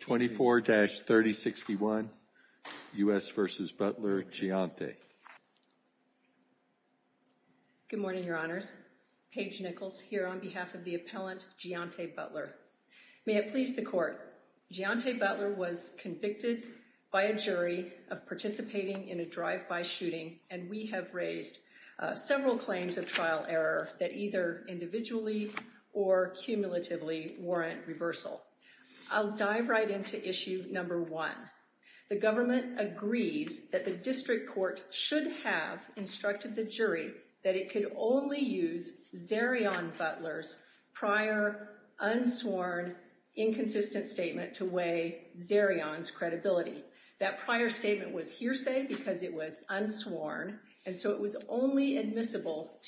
24-3061 U.S. v. Butler, G'Ante. Good morning, your honors. Paige Nichols here on behalf of the appellant G'Ante Butler. May it please the court, G'Ante Butler was convicted by a jury of participating in a drive-by shooting, and we have raised several claims of trial error that either individually or cumulatively warrant reversal. I'll dive right into issue number one. The government agrees that the district court should have instructed the jury that it could only use Zerion Butler's prior unsworn inconsistent statement to weigh Zerion's credibility. That prior statement was hearsay because it was unsworn, and so it was only admissible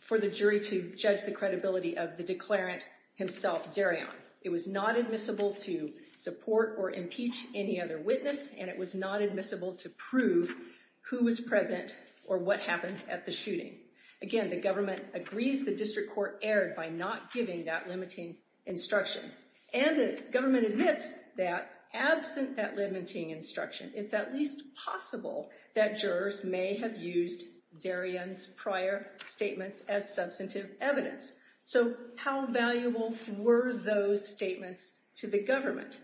for the jury to judge the credibility of the declarant himself, Zerion. It was not admissible to support or impeach any other witness, and it was not admissible to prove who was present or what happened at the shooting. Again, the government agrees the district court erred by not giving that limiting instruction, and the government admits that absent that limiting instruction, it's at least possible that jurors may have used Zerion's prior statements as substantive evidence. So how valuable were those statements to the government?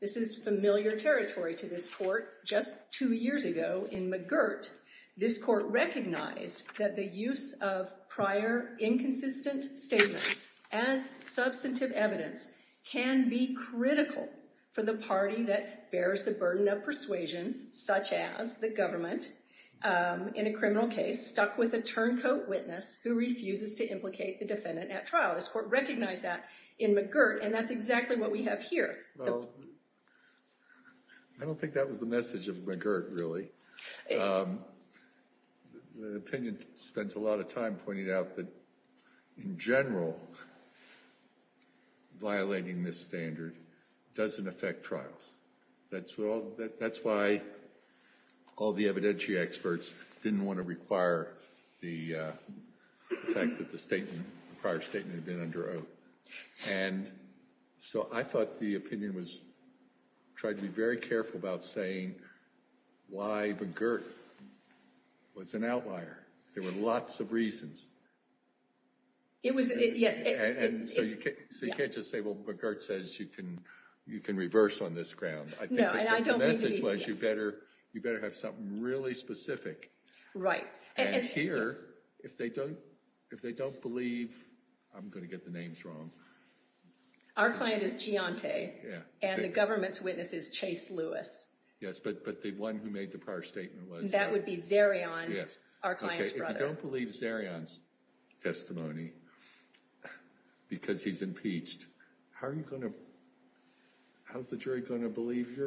This is familiar territory to this court. Just two years ago in McGirt, this court recognized that the use of prior inconsistent statements as substantive evidence can be critical for the party that bears the burden of persuasion, such as the government, in a criminal case stuck with a turncoat witness who refuses to implicate the defendant at trial. This court recognized that in McGirt, and that's exactly what we have here. Well, I don't think that was the message of McGirt, really. The opinion spends a lot of time pointing out that in general, violating this standard doesn't affect trials. That's why all the evidentiary experts didn't want to require the fact that the prior statement had been under oath. And so I thought the opinion was tried to be very careful about saying why McGirt was an outlier. There were lots of reasons. It was, yes. And so you can't just say, well, McGirt says you can reverse on this ground. No, and I don't mean to be specific. The message was you better have something really specific. Right. And here, if they don't believe, I'm going to get the names wrong. Our client is Giante, and the government's witness is Chase Lewis. Yes, but the one who made the prior statement was? That would be Zerion, our client's brother. If you don't believe Zerion's testimony because he's impeached, how are you going to, how's the jury going to believe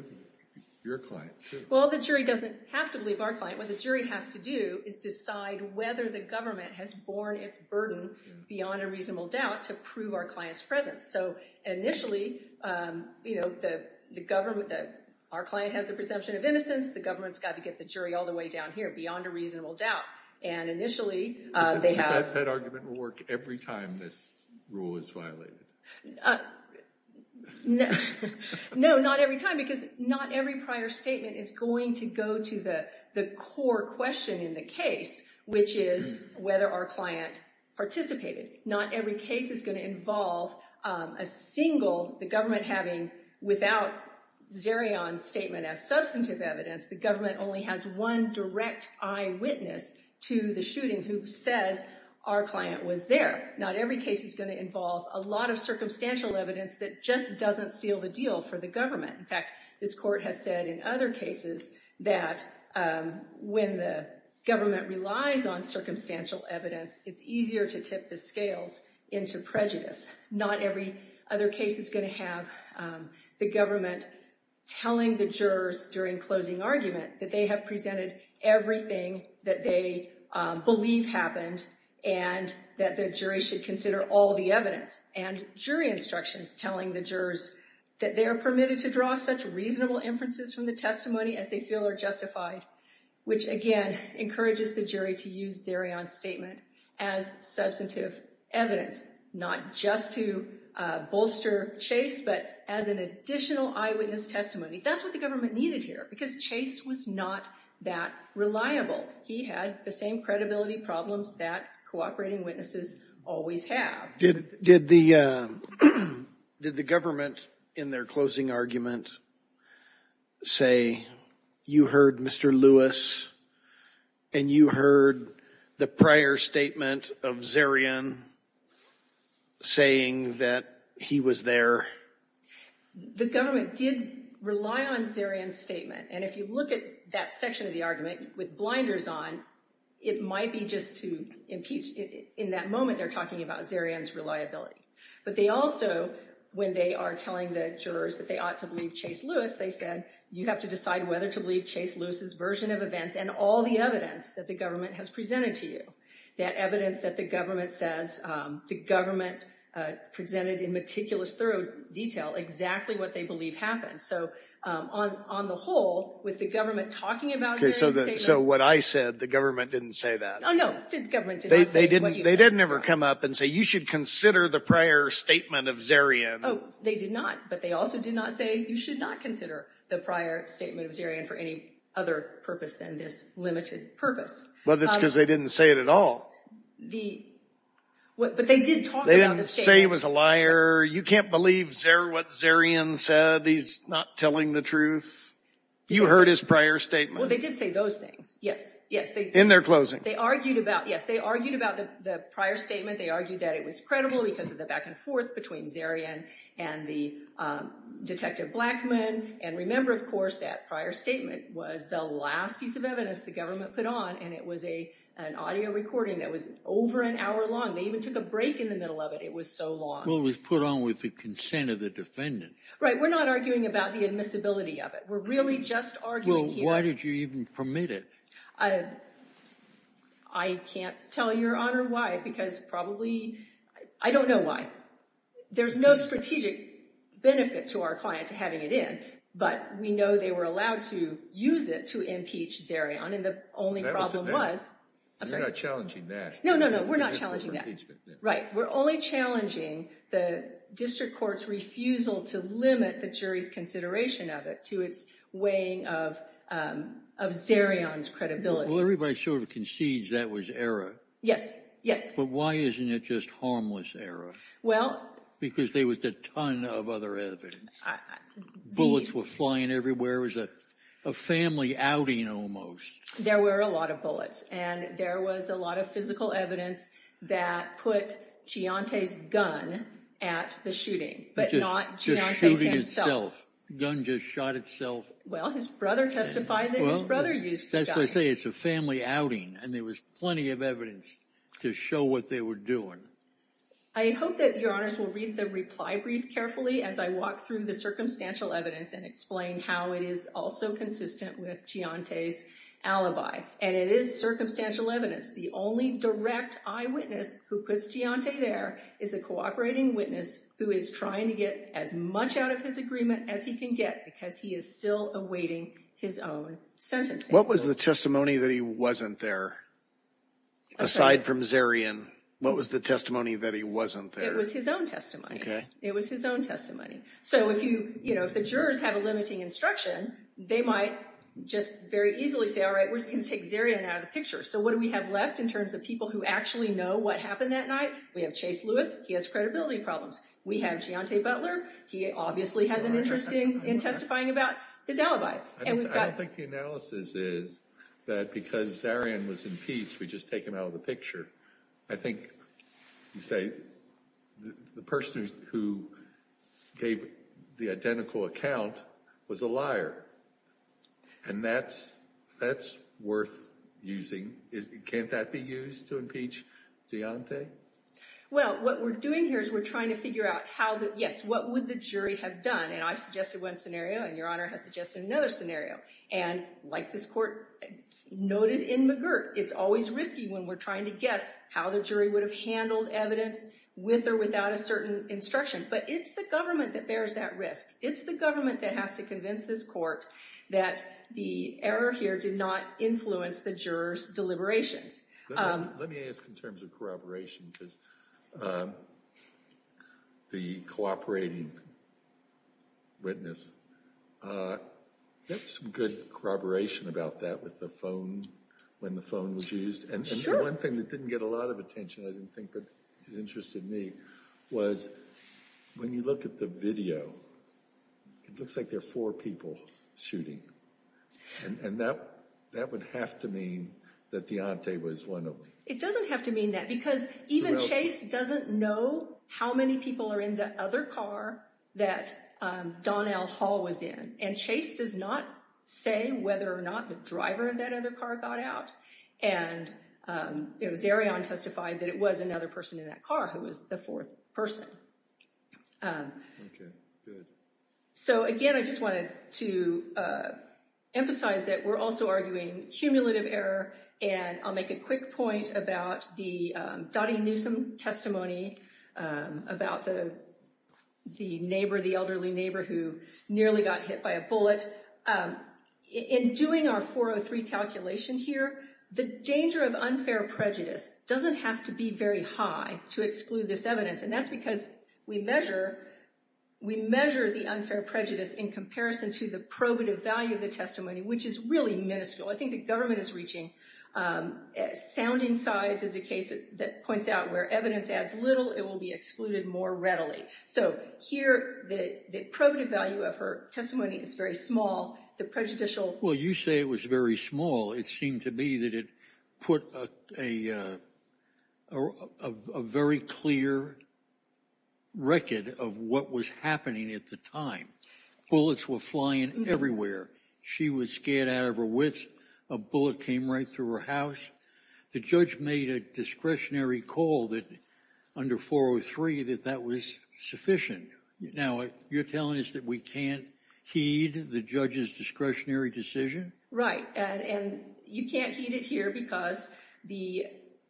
your client? Well, the jury doesn't have to believe our client. What the jury has to do is decide whether the government has borne its burden beyond a reasonable doubt to prove our client's presence. So initially, you know, the government, our client has the presumption of innocence. The government's got to get the jury all the way down here beyond a reasonable doubt to prove our client's innocence. And initially, they have- I think that argument will work every time this rule is violated. No, not every time because not every prior statement is going to go to the core question in the case, which is whether our client participated. Not every case is going to involve a single, the government having, without Zerion's statement as substantive evidence, the government only has one direct eyewitness to the shooting who says our client was there. Not every case is going to involve a lot of circumstantial evidence that just doesn't seal the deal for the government. In fact, this court has said in other cases that when the government relies on circumstantial evidence, it's easier to tip the scales into prejudice. Not every other case is going to have the government telling the jurors during closing argument that they have presented everything that they believe happened and that the jury should consider all the evidence and jury instructions telling the jurors that they are permitted to draw such reasonable inferences from the testimony as they feel are justified, which again, encourages the jury to use Zerion's statement as substantive evidence, not just to bolster Chase, but as an additional eyewitness testimony. That's what the government needed here because Chase was not that reliable. He had the same credibility problems that cooperating witnesses always have. Did the government in their closing argument say, you heard Mr. Lewis and you heard the prior statement of Zerion saying that he was there? The government did rely on Zerion's statement. And if you look at that section of the argument with blinders on, it might be just to impeach. In that moment, they're talking about Zerion's reliability. But they also, when they are telling the jurors that they ought to believe Chase Lewis, they said, you have to decide whether to believe Chase Lewis's version of events and all the evidence that the government has presented to you. That evidence that the government says, the government presented in meticulous, thorough detail exactly what they believe happened. So on the whole, with the government talking about Zerion's statement. So what I said, the government didn't say that? Oh no, the government did not say what you said. They didn't ever come up and say, you should consider the prior statement of Zerion. Oh, they did not. But they also did not say, you should not consider the prior statement of Zerion for any other purpose than this limited purpose. But that's because they didn't say it at all. But they did talk about the statement. They didn't say he was a liar. You can't believe what Zerion said. He's not telling the truth. You heard his prior statement. Well, they did say those things. Yes. Yes. In their closing. They argued about, yes, they argued about the prior statement. They argued that it was credible because of the back and forth between Zerion and the detective Blackmun. And remember, of course, that prior statement was the last piece of evidence the government put on. And it was an audio recording that was over an hour long. They even took a break in the middle of it. It was so long. Well, it was put on with the consent of the defendant. Right. We're not arguing about the admissibility of it. We're really just arguing here. Why did you even permit it? I can't tell your honor why, because probably, I don't know why. There's no strategic benefit to our client to having it in. But we know they were allowed to use it to impeach Zerion. And the only problem was. You're not challenging that. No, no, no. We're not challenging that. Right. We're only challenging the district court's refusal to limit the jury's consideration of it to its weighing of Zerion's credibility. Well, everybody sort of concedes that was error. Yes. Yes. But why isn't it just harmless error? Well. Because there was a ton of other evidence. Bullets were flying everywhere. It was a family outing almost. There were a lot of bullets. And there was a lot of physical evidence that put Giante's gun at the shooting. But not Giante himself. Gun just shot itself. Well, his brother testified that his brother used the gun. That's what I say. It's a family outing. And there was plenty of evidence to show what they were doing. I hope that your honors will read the reply brief carefully as I walk through the circumstantial evidence and explain how it is also consistent with Giante's alibi. And it is circumstantial evidence. The only direct eyewitness who puts Giante there is a cooperating witness who is trying to get as much out of his agreement as he can get because he is still awaiting his own sentencing. What was the testimony that he wasn't there? Aside from Zerion, what was the testimony that he wasn't there? It was his own testimony. It was his own testimony. So if you, you know, if the jurors have a limiting instruction, they might just very easily say, all right, we're just going to take Zerion out of the picture. So what do we have left in terms of people who actually know what happened that night? We have Chase Lewis. He has credibility problems. We have Giante Butler. He obviously has an interest in testifying about his alibi. I don't think the analysis is that because Zerion was impeached, we just take him out of the picture. I think you say the person who gave the identical account was a liar. And that's worth using. Can't that be used to impeach Giante? Well, what we're doing here is we're trying to figure out how the, yes, what would the jury have done? And I've suggested one scenario, and Your Honor has suggested another scenario. And like this court noted in McGirt, it's always risky when we're trying to guess how the jury would have handled evidence with or without a certain instruction. But it's the government that bears that risk. It's the government that has to convince this court that the error here did not influence the jurors' deliberations. Let me ask in terms of corroboration, because the cooperating witness, there was some good corroboration about that with the phone, when the phone was used. And the one thing that didn't get a lot of attention, I didn't think, but it interested me, was when you look at the video, it looks like there are four people shooting. And that would have to mean that Giante was one of them. It doesn't have to mean that, because even Chase doesn't know how many people are in the other car that Donnell Hall was in. And Chase does not say whether or not the driver of that other car got out. And it was Arion who testified that it was another person in that car who was the fourth person. Okay, good. So again, I just wanted to emphasize that we're also arguing cumulative error. And I'll make a quick point about the Dottie Newsom testimony about the neighbor, the elderly neighbor who nearly got hit by a bullet. In doing our 403 calculation here, the danger of unfair prejudice doesn't have to be very high to exclude this evidence. And that's because we measure the unfair prejudice in comparison to the probative value of the testimony, which is really minuscule. I think the government is reaching, sounding sides is a case that points out where evidence adds little, it will be excluded more readily. So here, the probative value of her testimony is very small. The prejudicial- Well, you say it was very small. It seemed to me that it put a very clear record of what was happening at the time. Bullets were flying everywhere. She was scared out of her wits. A bullet came right through her house. The judge made a discretionary call that under 403 that that was sufficient. Now, you're telling us that we can't heed the judge's discretionary decision? Right. And you can't heed it here because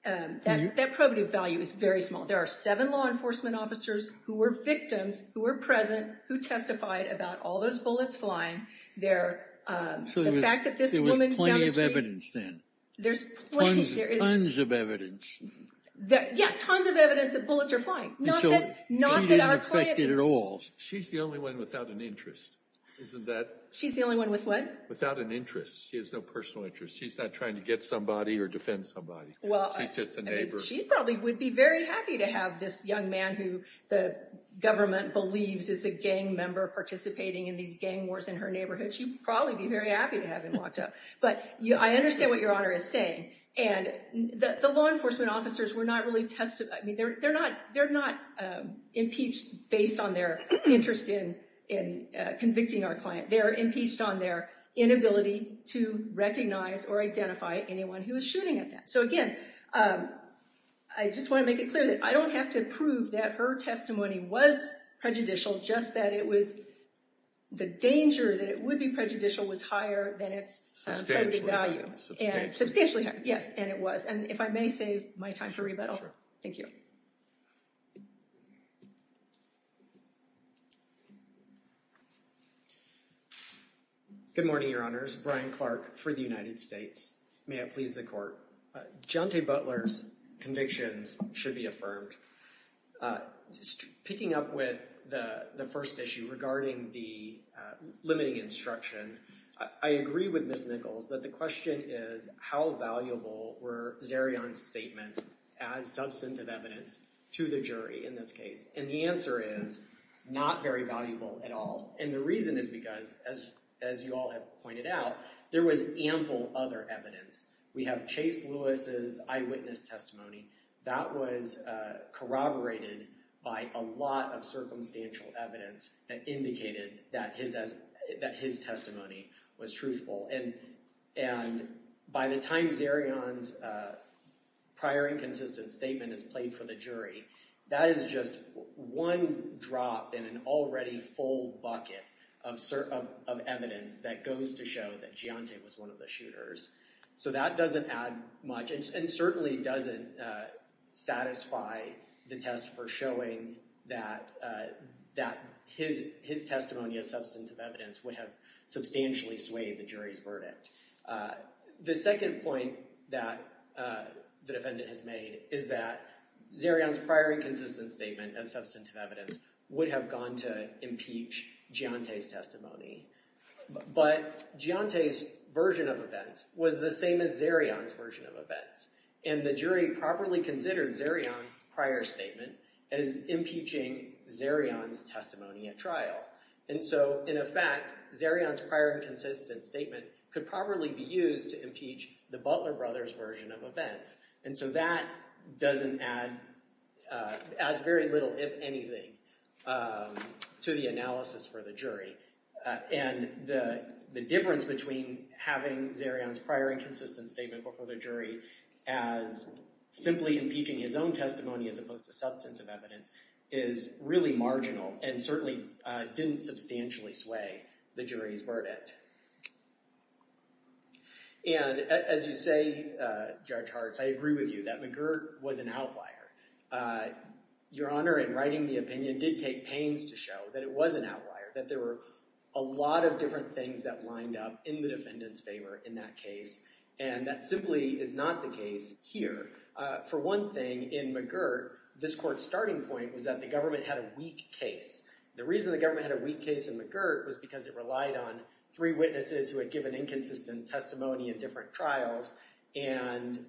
that probative value is very small. There are seven law enforcement officers who were victims, who were present, who testified about all those bullets flying there. So the fact that this woman- There was plenty of evidence then. There's plenty, there is- Tons of evidence. Yeah, tons of evidence that bullets are flying. And so she didn't affect it at all. She's the only one without an interest, isn't that- She's the only one with what? Without an interest. She has no personal interest. She's not trying to get somebody or defend somebody. Well- She's just a neighbor. She probably would be very happy to have this young man who the government believes is a gang member participating in these gang wars in her neighborhood. She'd probably be very happy to have him locked up. But I understand what Your Honor is saying. And the law enforcement officers were not really testifying. I mean, they're not impeached based on their interest in convicting our client. They're impeached on their inability to recognize or identify anyone who was shooting at them. So again, I just want to make it clear that I don't have to prove that her testimony was prejudicial, just that it was- the danger that it would be prejudicial was higher than its- Substantially. Credited value. Substantially higher, yes. And it was. And if I may save my time for rebuttal. Thank you. Good morning, Your Honors. Brian Clark for the United States. May it please the Court. John T. Butler's convictions should be affirmed. Picking up with the first issue regarding the limiting instruction, I agree with Ms. Nichols that the question is how valuable were Zerion's statements as substantive evidence to the jury in this case? And the answer is not very valuable at all. And the reason is because, as you all have pointed out, there was ample other evidence. We have Chase Lewis's eyewitness testimony. That was corroborated by a lot of circumstantial evidence that indicated that his testimony was truthful. And by the time Zerion's prior inconsistent statement is played for the jury, that is just one drop in an already full bucket of evidence that goes to show that Giante was one of the shooters. So that doesn't add much and certainly doesn't satisfy the test for showing that his testimony as substantive evidence would have substantially swayed the jury's verdict. The second point that the defendant has made is that Zerion's prior inconsistent statement as substantive evidence would have gone to impeach Giante's testimony. But Giante's version of events was the same as Zerion's version of events. And the jury properly considered Zerion's prior statement as impeaching Zerion's testimony at trial. And so, in effect, Zerion's prior inconsistent statement could probably be used to impeach the Butler brothers' version of events. And so that doesn't add very little, if anything, to the analysis for the jury. And the difference between having Zerion's prior inconsistent statement before the jury as simply impeaching his own testimony as opposed to substantive evidence is really marginal and certainly didn't substantially sway the jury's verdict. And as you say, Judge Hartz, I agree with you that McGirt was an outlier. Your Honor, in writing the opinion, did take pains to show that it was an outlier, that there were a lot of different things that lined up in the defendant's favor in that case. And that simply is not the case here. For one thing, in McGirt, this court's starting point was that the government had a weak case. The reason the government had a weak case in McGirt was because it relied on three witnesses who had given inconsistent testimony in different trials, and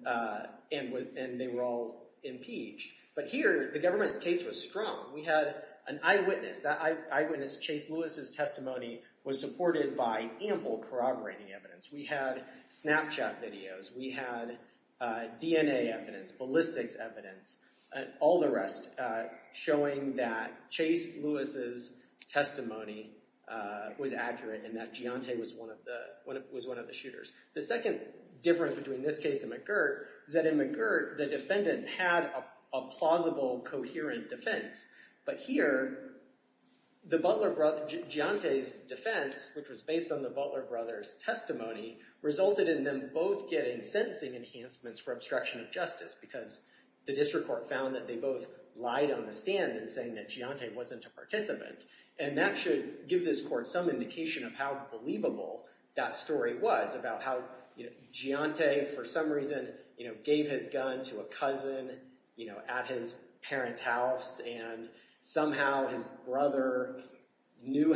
they were all impeached. But here, the government's case was strong. We had an eyewitness. That eyewitness, Chase Lewis's testimony, was supported by ample corroborating evidence. We had Snapchat videos. We had DNA evidence, ballistics evidence, and all the rest showing that Chase Lewis's testimony was accurate and that Giante was one of the shooters. The second difference between this case and McGirt is that in McGirt, the defendant had a plausible, coherent defense. But here, Giante's defense, which was based on the Butler brothers' testimony, resulted in them both getting sentencing enhancements for obstruction of justice because the district court found that they both lied on the stand in saying that Giante wasn't a participant. And that should give this court some indication of how believable that story was about how Giante, for some reason, gave his gun to a cousin at his parents' house, and somehow his brother knew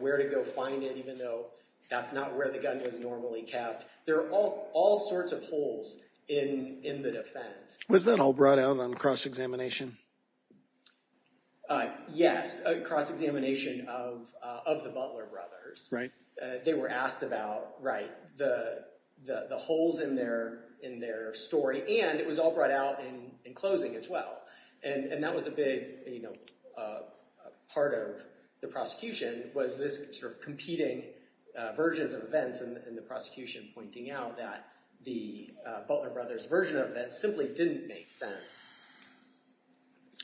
where to go find it even though that's not where the gun was normally kept. There are all sorts of holes in the defense. Was that all brought out on cross-examination? Yes, a cross-examination of the Butler brothers. They were asked about the holes in their story, and it was all brought out in closing as well. And that was a big part of the prosecution was this sort of competing versions of events and the prosecution pointing out that the Butler brothers' version of events simply didn't make sense.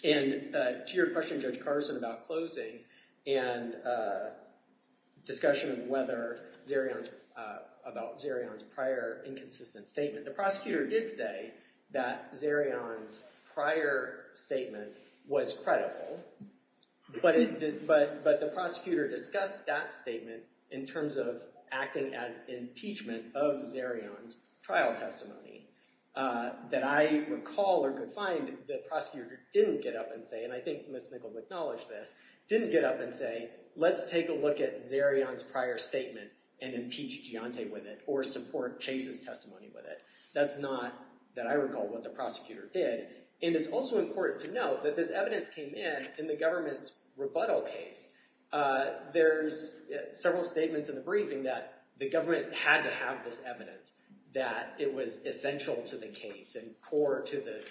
And to your question, Judge Carson, about closing and discussion about Zerion's prior inconsistent statement, the prosecutor did say that Zerion's prior statement was credible, but the prosecutor discussed that statement in terms of acting as impeachment of Zerion's trial testimony that I recall or could find the prosecutor didn't get up and say, and I think Ms. Nichols acknowledged this, didn't get up and say, let's take a look at Zerion's prior statement and impeach Giante with it or support Chase's testimony with it. That's not, that I recall, what the prosecutor did. And it's also important to note that this evidence came in in the government's rebuttal case. There's several statements in the briefing that the government had to have this evidence, that it was essential to the case and core to the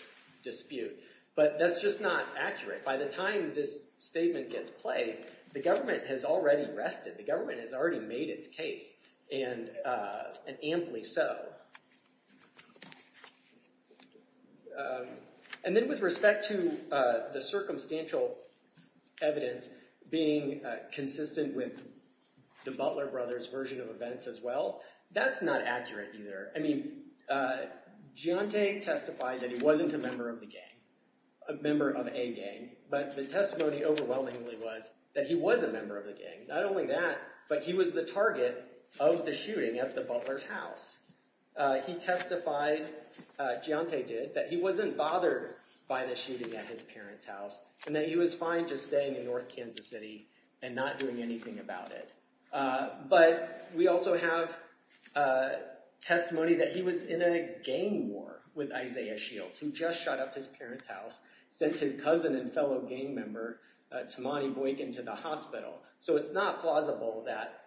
dispute. But that's just not accurate. By the time this statement gets played, the government has already rested. The government has already made its case, and amply so. And then with respect to the circumstantial evidence being consistent with the Butler brothers' version of events as well, that's not accurate either. I mean, Giante testified that he wasn't a member of the gang, a member of a gang, but the testimony overwhelmingly was that he was a member of the gang. Not only that, but he was the target of the shooting at the Butler's house. He testified, Giante did, that he wasn't bothered by the shooting at his parents' house, and that he was fine just staying in North Kansas City and not doing anything about it. But we also have testimony that he was in a gang war with Isaiah Shields, who just shot up his parents' house, sent his cousin and fellow gang member, Tamani Boykin, to the hospital. So it's not plausible that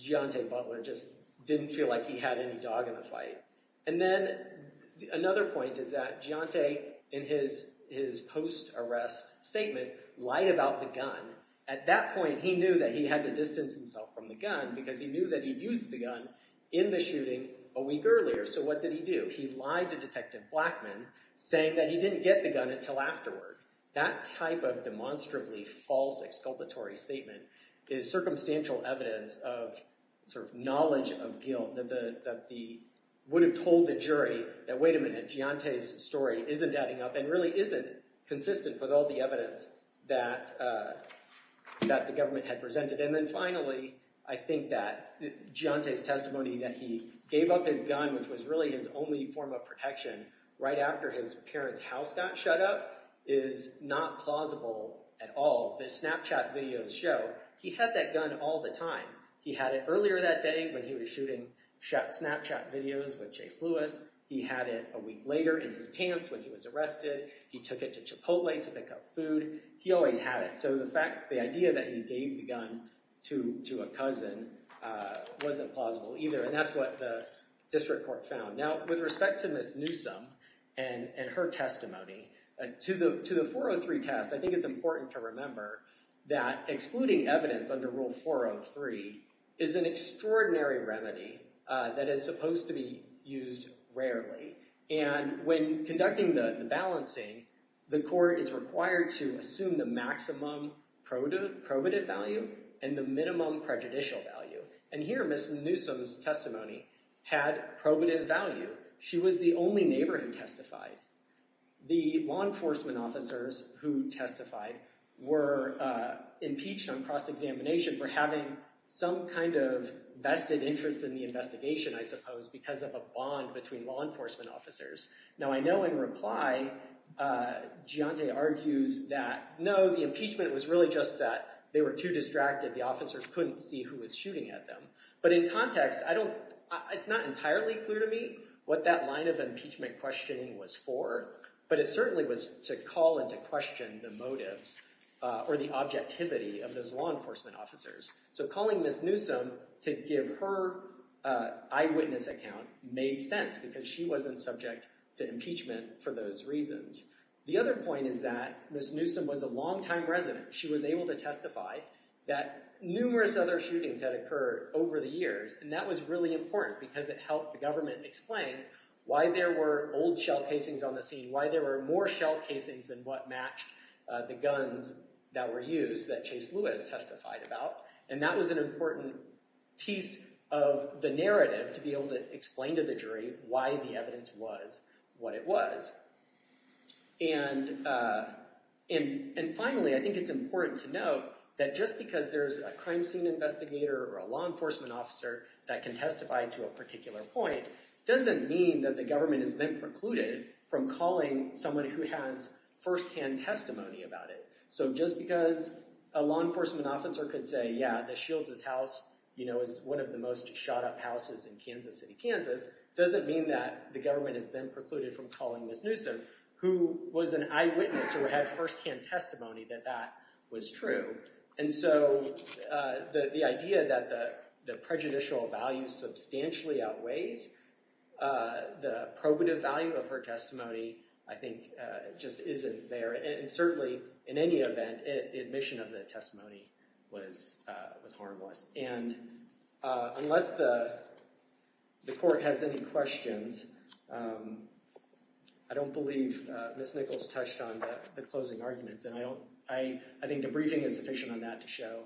Giante Butler just didn't feel like he had any dog in the fight. And then another point is that Giante, in his post-arrest statement, lied about the At that point, he knew that he had to distance himself from the gun, because he knew that he'd used the gun in the shooting a week earlier. So what did he do? He lied to Detective Blackman, saying that he didn't get the gun until afterward. That type of demonstrably false exculpatory statement is circumstantial evidence of knowledge of guilt that would have told the jury that, wait a minute, Giante's story isn't adding up and really isn't consistent with all the evidence that the government had presented. And then finally, I think that Giante's testimony that he gave up his gun, which was his only form of protection right after his parents' house got shut up, is not plausible at all. The Snapchat videos show he had that gun all the time. He had it earlier that day when he was shooting Snapchat videos with Chase Lewis. He had it a week later in his pants when he was arrested. He took it to Chipotle to pick up food. He always had it. So the idea that he gave the gun to a cousin wasn't plausible either. And that's what the district court found. Now, with respect to Ms. Newsom and her testimony, to the 403 test, I think it's important to remember that excluding evidence under Rule 403 is an extraordinary remedy that is supposed to be used rarely. And when conducting the balancing, the court is required to assume the maximum probative value and the minimum prejudicial value. And here, Ms. Newsom's testimony had probative value. She was the only neighbor who testified. The law enforcement officers who testified were impeached on cross-examination for having some kind of vested interest in the investigation, I suppose, because of a bond between law enforcement officers. Now, I know in reply, Giante argues that, no, the impeachment was really just that they were too distracted. The officers couldn't see who was shooting at them. But in context, it's not entirely clear to me what that line of impeachment questioning was for. But it certainly was to call into question the motives or the objectivity of those law enforcement officers. So calling Ms. Newsom to give her eyewitness account made sense because she wasn't subject to impeachment for those reasons. The other point is that Ms. Newsom was a longtime resident. She was able to testify that numerous other shootings had occurred over the years. And that was really important because it helped the government explain why there were old shell casings on the scene, why there were more shell casings than what matched the guns that were used that Chase Lewis testified about. And that was an important piece of the narrative to be able to explain to the jury why the evidence was what it was. And finally, I think it's important to note that just because there's a crime scene investigator or a law enforcement officer that can testify to a particular point doesn't mean that the government is then precluded from calling someone who has firsthand testimony about it. So just because a law enforcement officer could say, yeah, the Shields' house is one of the most shot up houses in Kansas City, Kansas, doesn't mean that the government has been precluded from calling Ms. Newsom, who was an eyewitness or had firsthand testimony that that was true. And so the idea that the prejudicial value substantially outweighs the probative value of her testimony, I think, just isn't there. And certainly, in any event, admission of the testimony was harmless. And unless the court has any questions, I don't believe Ms. Nichols touched on the closing arguments. And I think the briefing is sufficient on that to show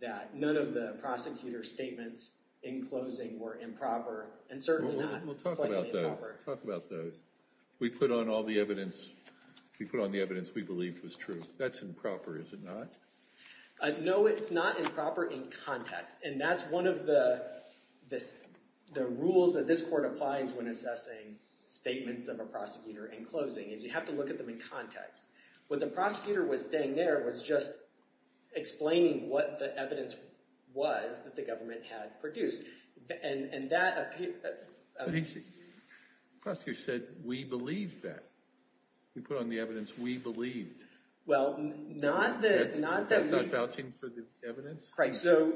that none of the prosecutor's statements in closing were improper and certainly not plainly improper. Well, we'll talk about those. Talk about those. We put on all the evidence. We put on the evidence we believe was true. That's improper, is it not? No, it's not improper in context. And that's one of the rules that this court applies when assessing statements of a prosecutor in closing, is you have to look at them in context. What the prosecutor was saying there was just explaining what the evidence was that the government had produced. And that appeared— But he said, the prosecutor said, we believe that. We put on the evidence we believed. Well, not that— That's not vouching for the evidence? Right. So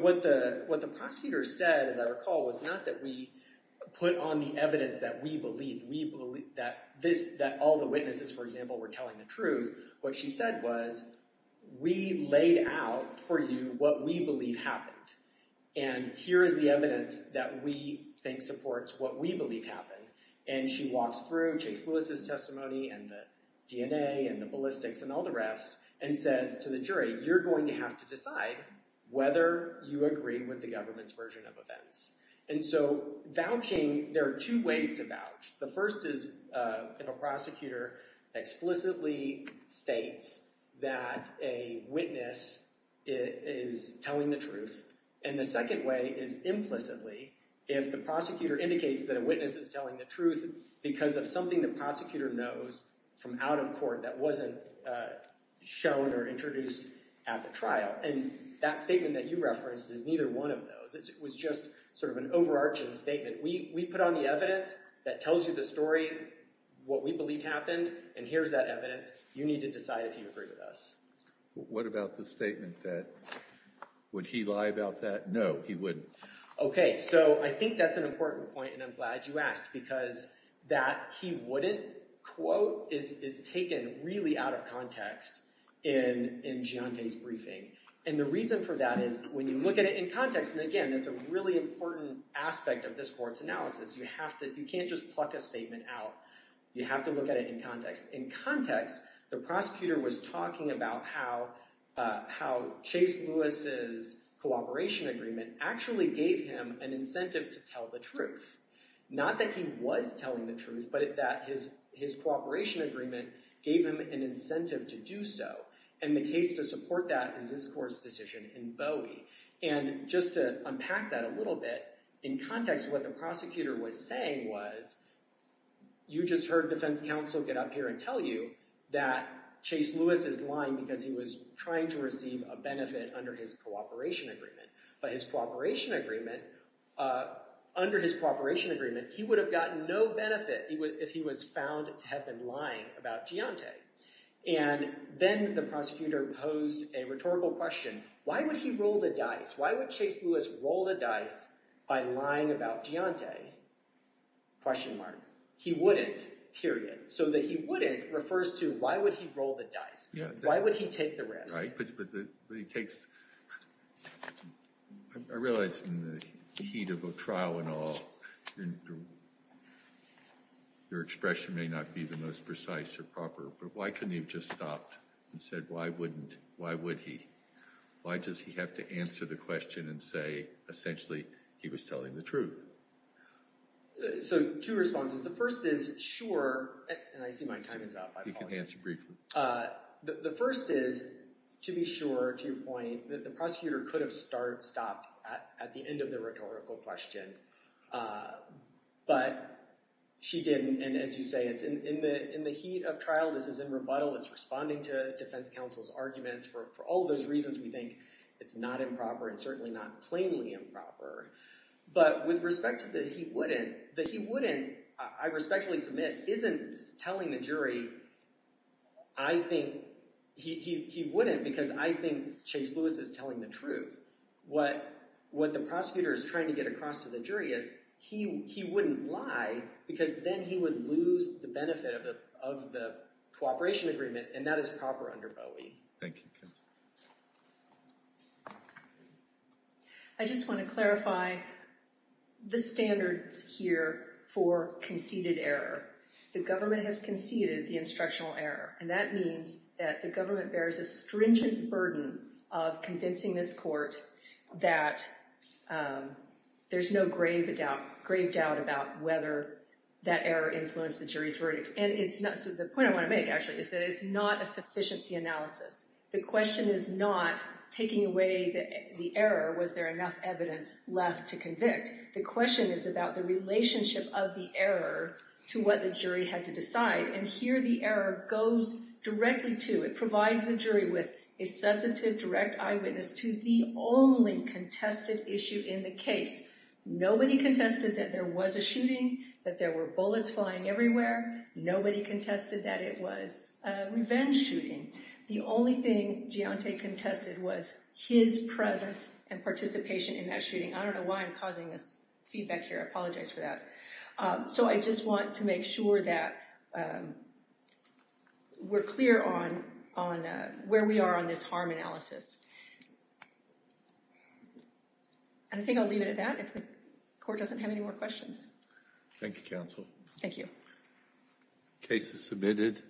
what the prosecutor said, as I recall, was not that we put on the evidence that we believe, that all the witnesses, for example, were telling the truth. What she said was, we laid out for you what we believe happened. And here is the evidence that we think supports what we believe happened. And she walks through Chase Lewis' testimony and the DNA and the ballistics and all the rest and says to the jury, you're going to have to decide whether you agree with the government's version of events. And so vouching, there are two ways to vouch. The first is if a prosecutor explicitly states that a witness is telling the truth. And the second way is implicitly if the prosecutor indicates that a witness is telling the truth because of something the prosecutor knows from out of court that wasn't shown or introduced at the trial. And that statement that you referenced is neither one of those. It was just sort of an overarching statement. We put on the evidence that tells you the story, what we believe happened, and here's that evidence. You need to decide if you agree with us. What about the statement that, would he lie about that? No, he wouldn't. Okay, so I think that's an important point and I'm glad you asked because that he wouldn't quote is taken really out of context in Giante's briefing. And the reason for that is when you look at it in context, and again, that's a really important aspect of this court's analysis. You have to, you can't just pluck a statement out. You have to look at it in context. In context, the prosecutor was talking about how Chase Lewis's cooperation agreement actually gave him an incentive to tell the truth. Not that he was telling the truth, but that his cooperation agreement gave him an incentive to do so. And the case to support that is this court's decision in Bowie. And just to unpack that a little bit, in context, what the prosecutor was saying was, you just heard defense counsel get up here and tell you that Chase Lewis is lying because he was trying to receive a benefit under his cooperation agreement. But his cooperation agreement, under his cooperation agreement, he would have gotten no benefit if he was found to have been lying about Giante. And then the prosecutor posed a rhetorical question. Why would he roll the dice? Why would Chase Lewis roll the dice by lying about Giante? Question mark. He wouldn't, period. So the he wouldn't refers to why would he roll the dice? Why would he take the risk? Right, but he takes, I realize in the heat of a trial and all, your expression may not be the most precise or proper, but why couldn't he have just stopped and said, why wouldn't, why would he? Why does he have to answer the question and say, essentially, he was telling the truth? So two responses. The first is, sure, and I see my time is up. You can answer briefly. The first is, to be sure, to your point, that the prosecutor could have stopped at the end of the rhetorical question, but she didn't. And as you say, it's in the heat of trial. This is in rebuttal. It's responding to defense counsel's arguments. For all those reasons, we think it's not improper and certainly not plainly improper. But with respect to the he wouldn't, the he wouldn't, I respectfully submit, isn't telling the jury, I think, he wouldn't because I think Chase Lewis is telling the truth. What the prosecutor is trying to get across to the jury is, he wouldn't lie because then he would lose the benefit of the cooperation agreement, and that is proper under Bowie. Thank you. I just want to clarify the standards here for conceded error. The government has conceded the instructional error, and that means that the government bears a stringent burden of convincing this court that there's no grave doubt about whether that error influenced the jury's verdict. The point I want to make, actually, is that it's not a sufficiency analysis. The question is not taking away the error. Was there enough evidence left to convict? The question is about the relationship of the error to what the jury had to decide, and here the error goes directly to, it provides the jury with a substantive direct eyewitness to the only contested issue in the case. Nobody contested that there was a shooting, that there were bullets flying everywhere. Nobody contested that it was a revenge shooting. The only thing Giante contested was his presence and participation in that shooting. I don't know why I'm causing this feedback here. I apologize for that. So I just want to make sure that we're clear on where we are on this harm analysis. And I think I'll leave it at that, if the court doesn't have any more questions. Thank you, counsel. Thank you. Case is submitted.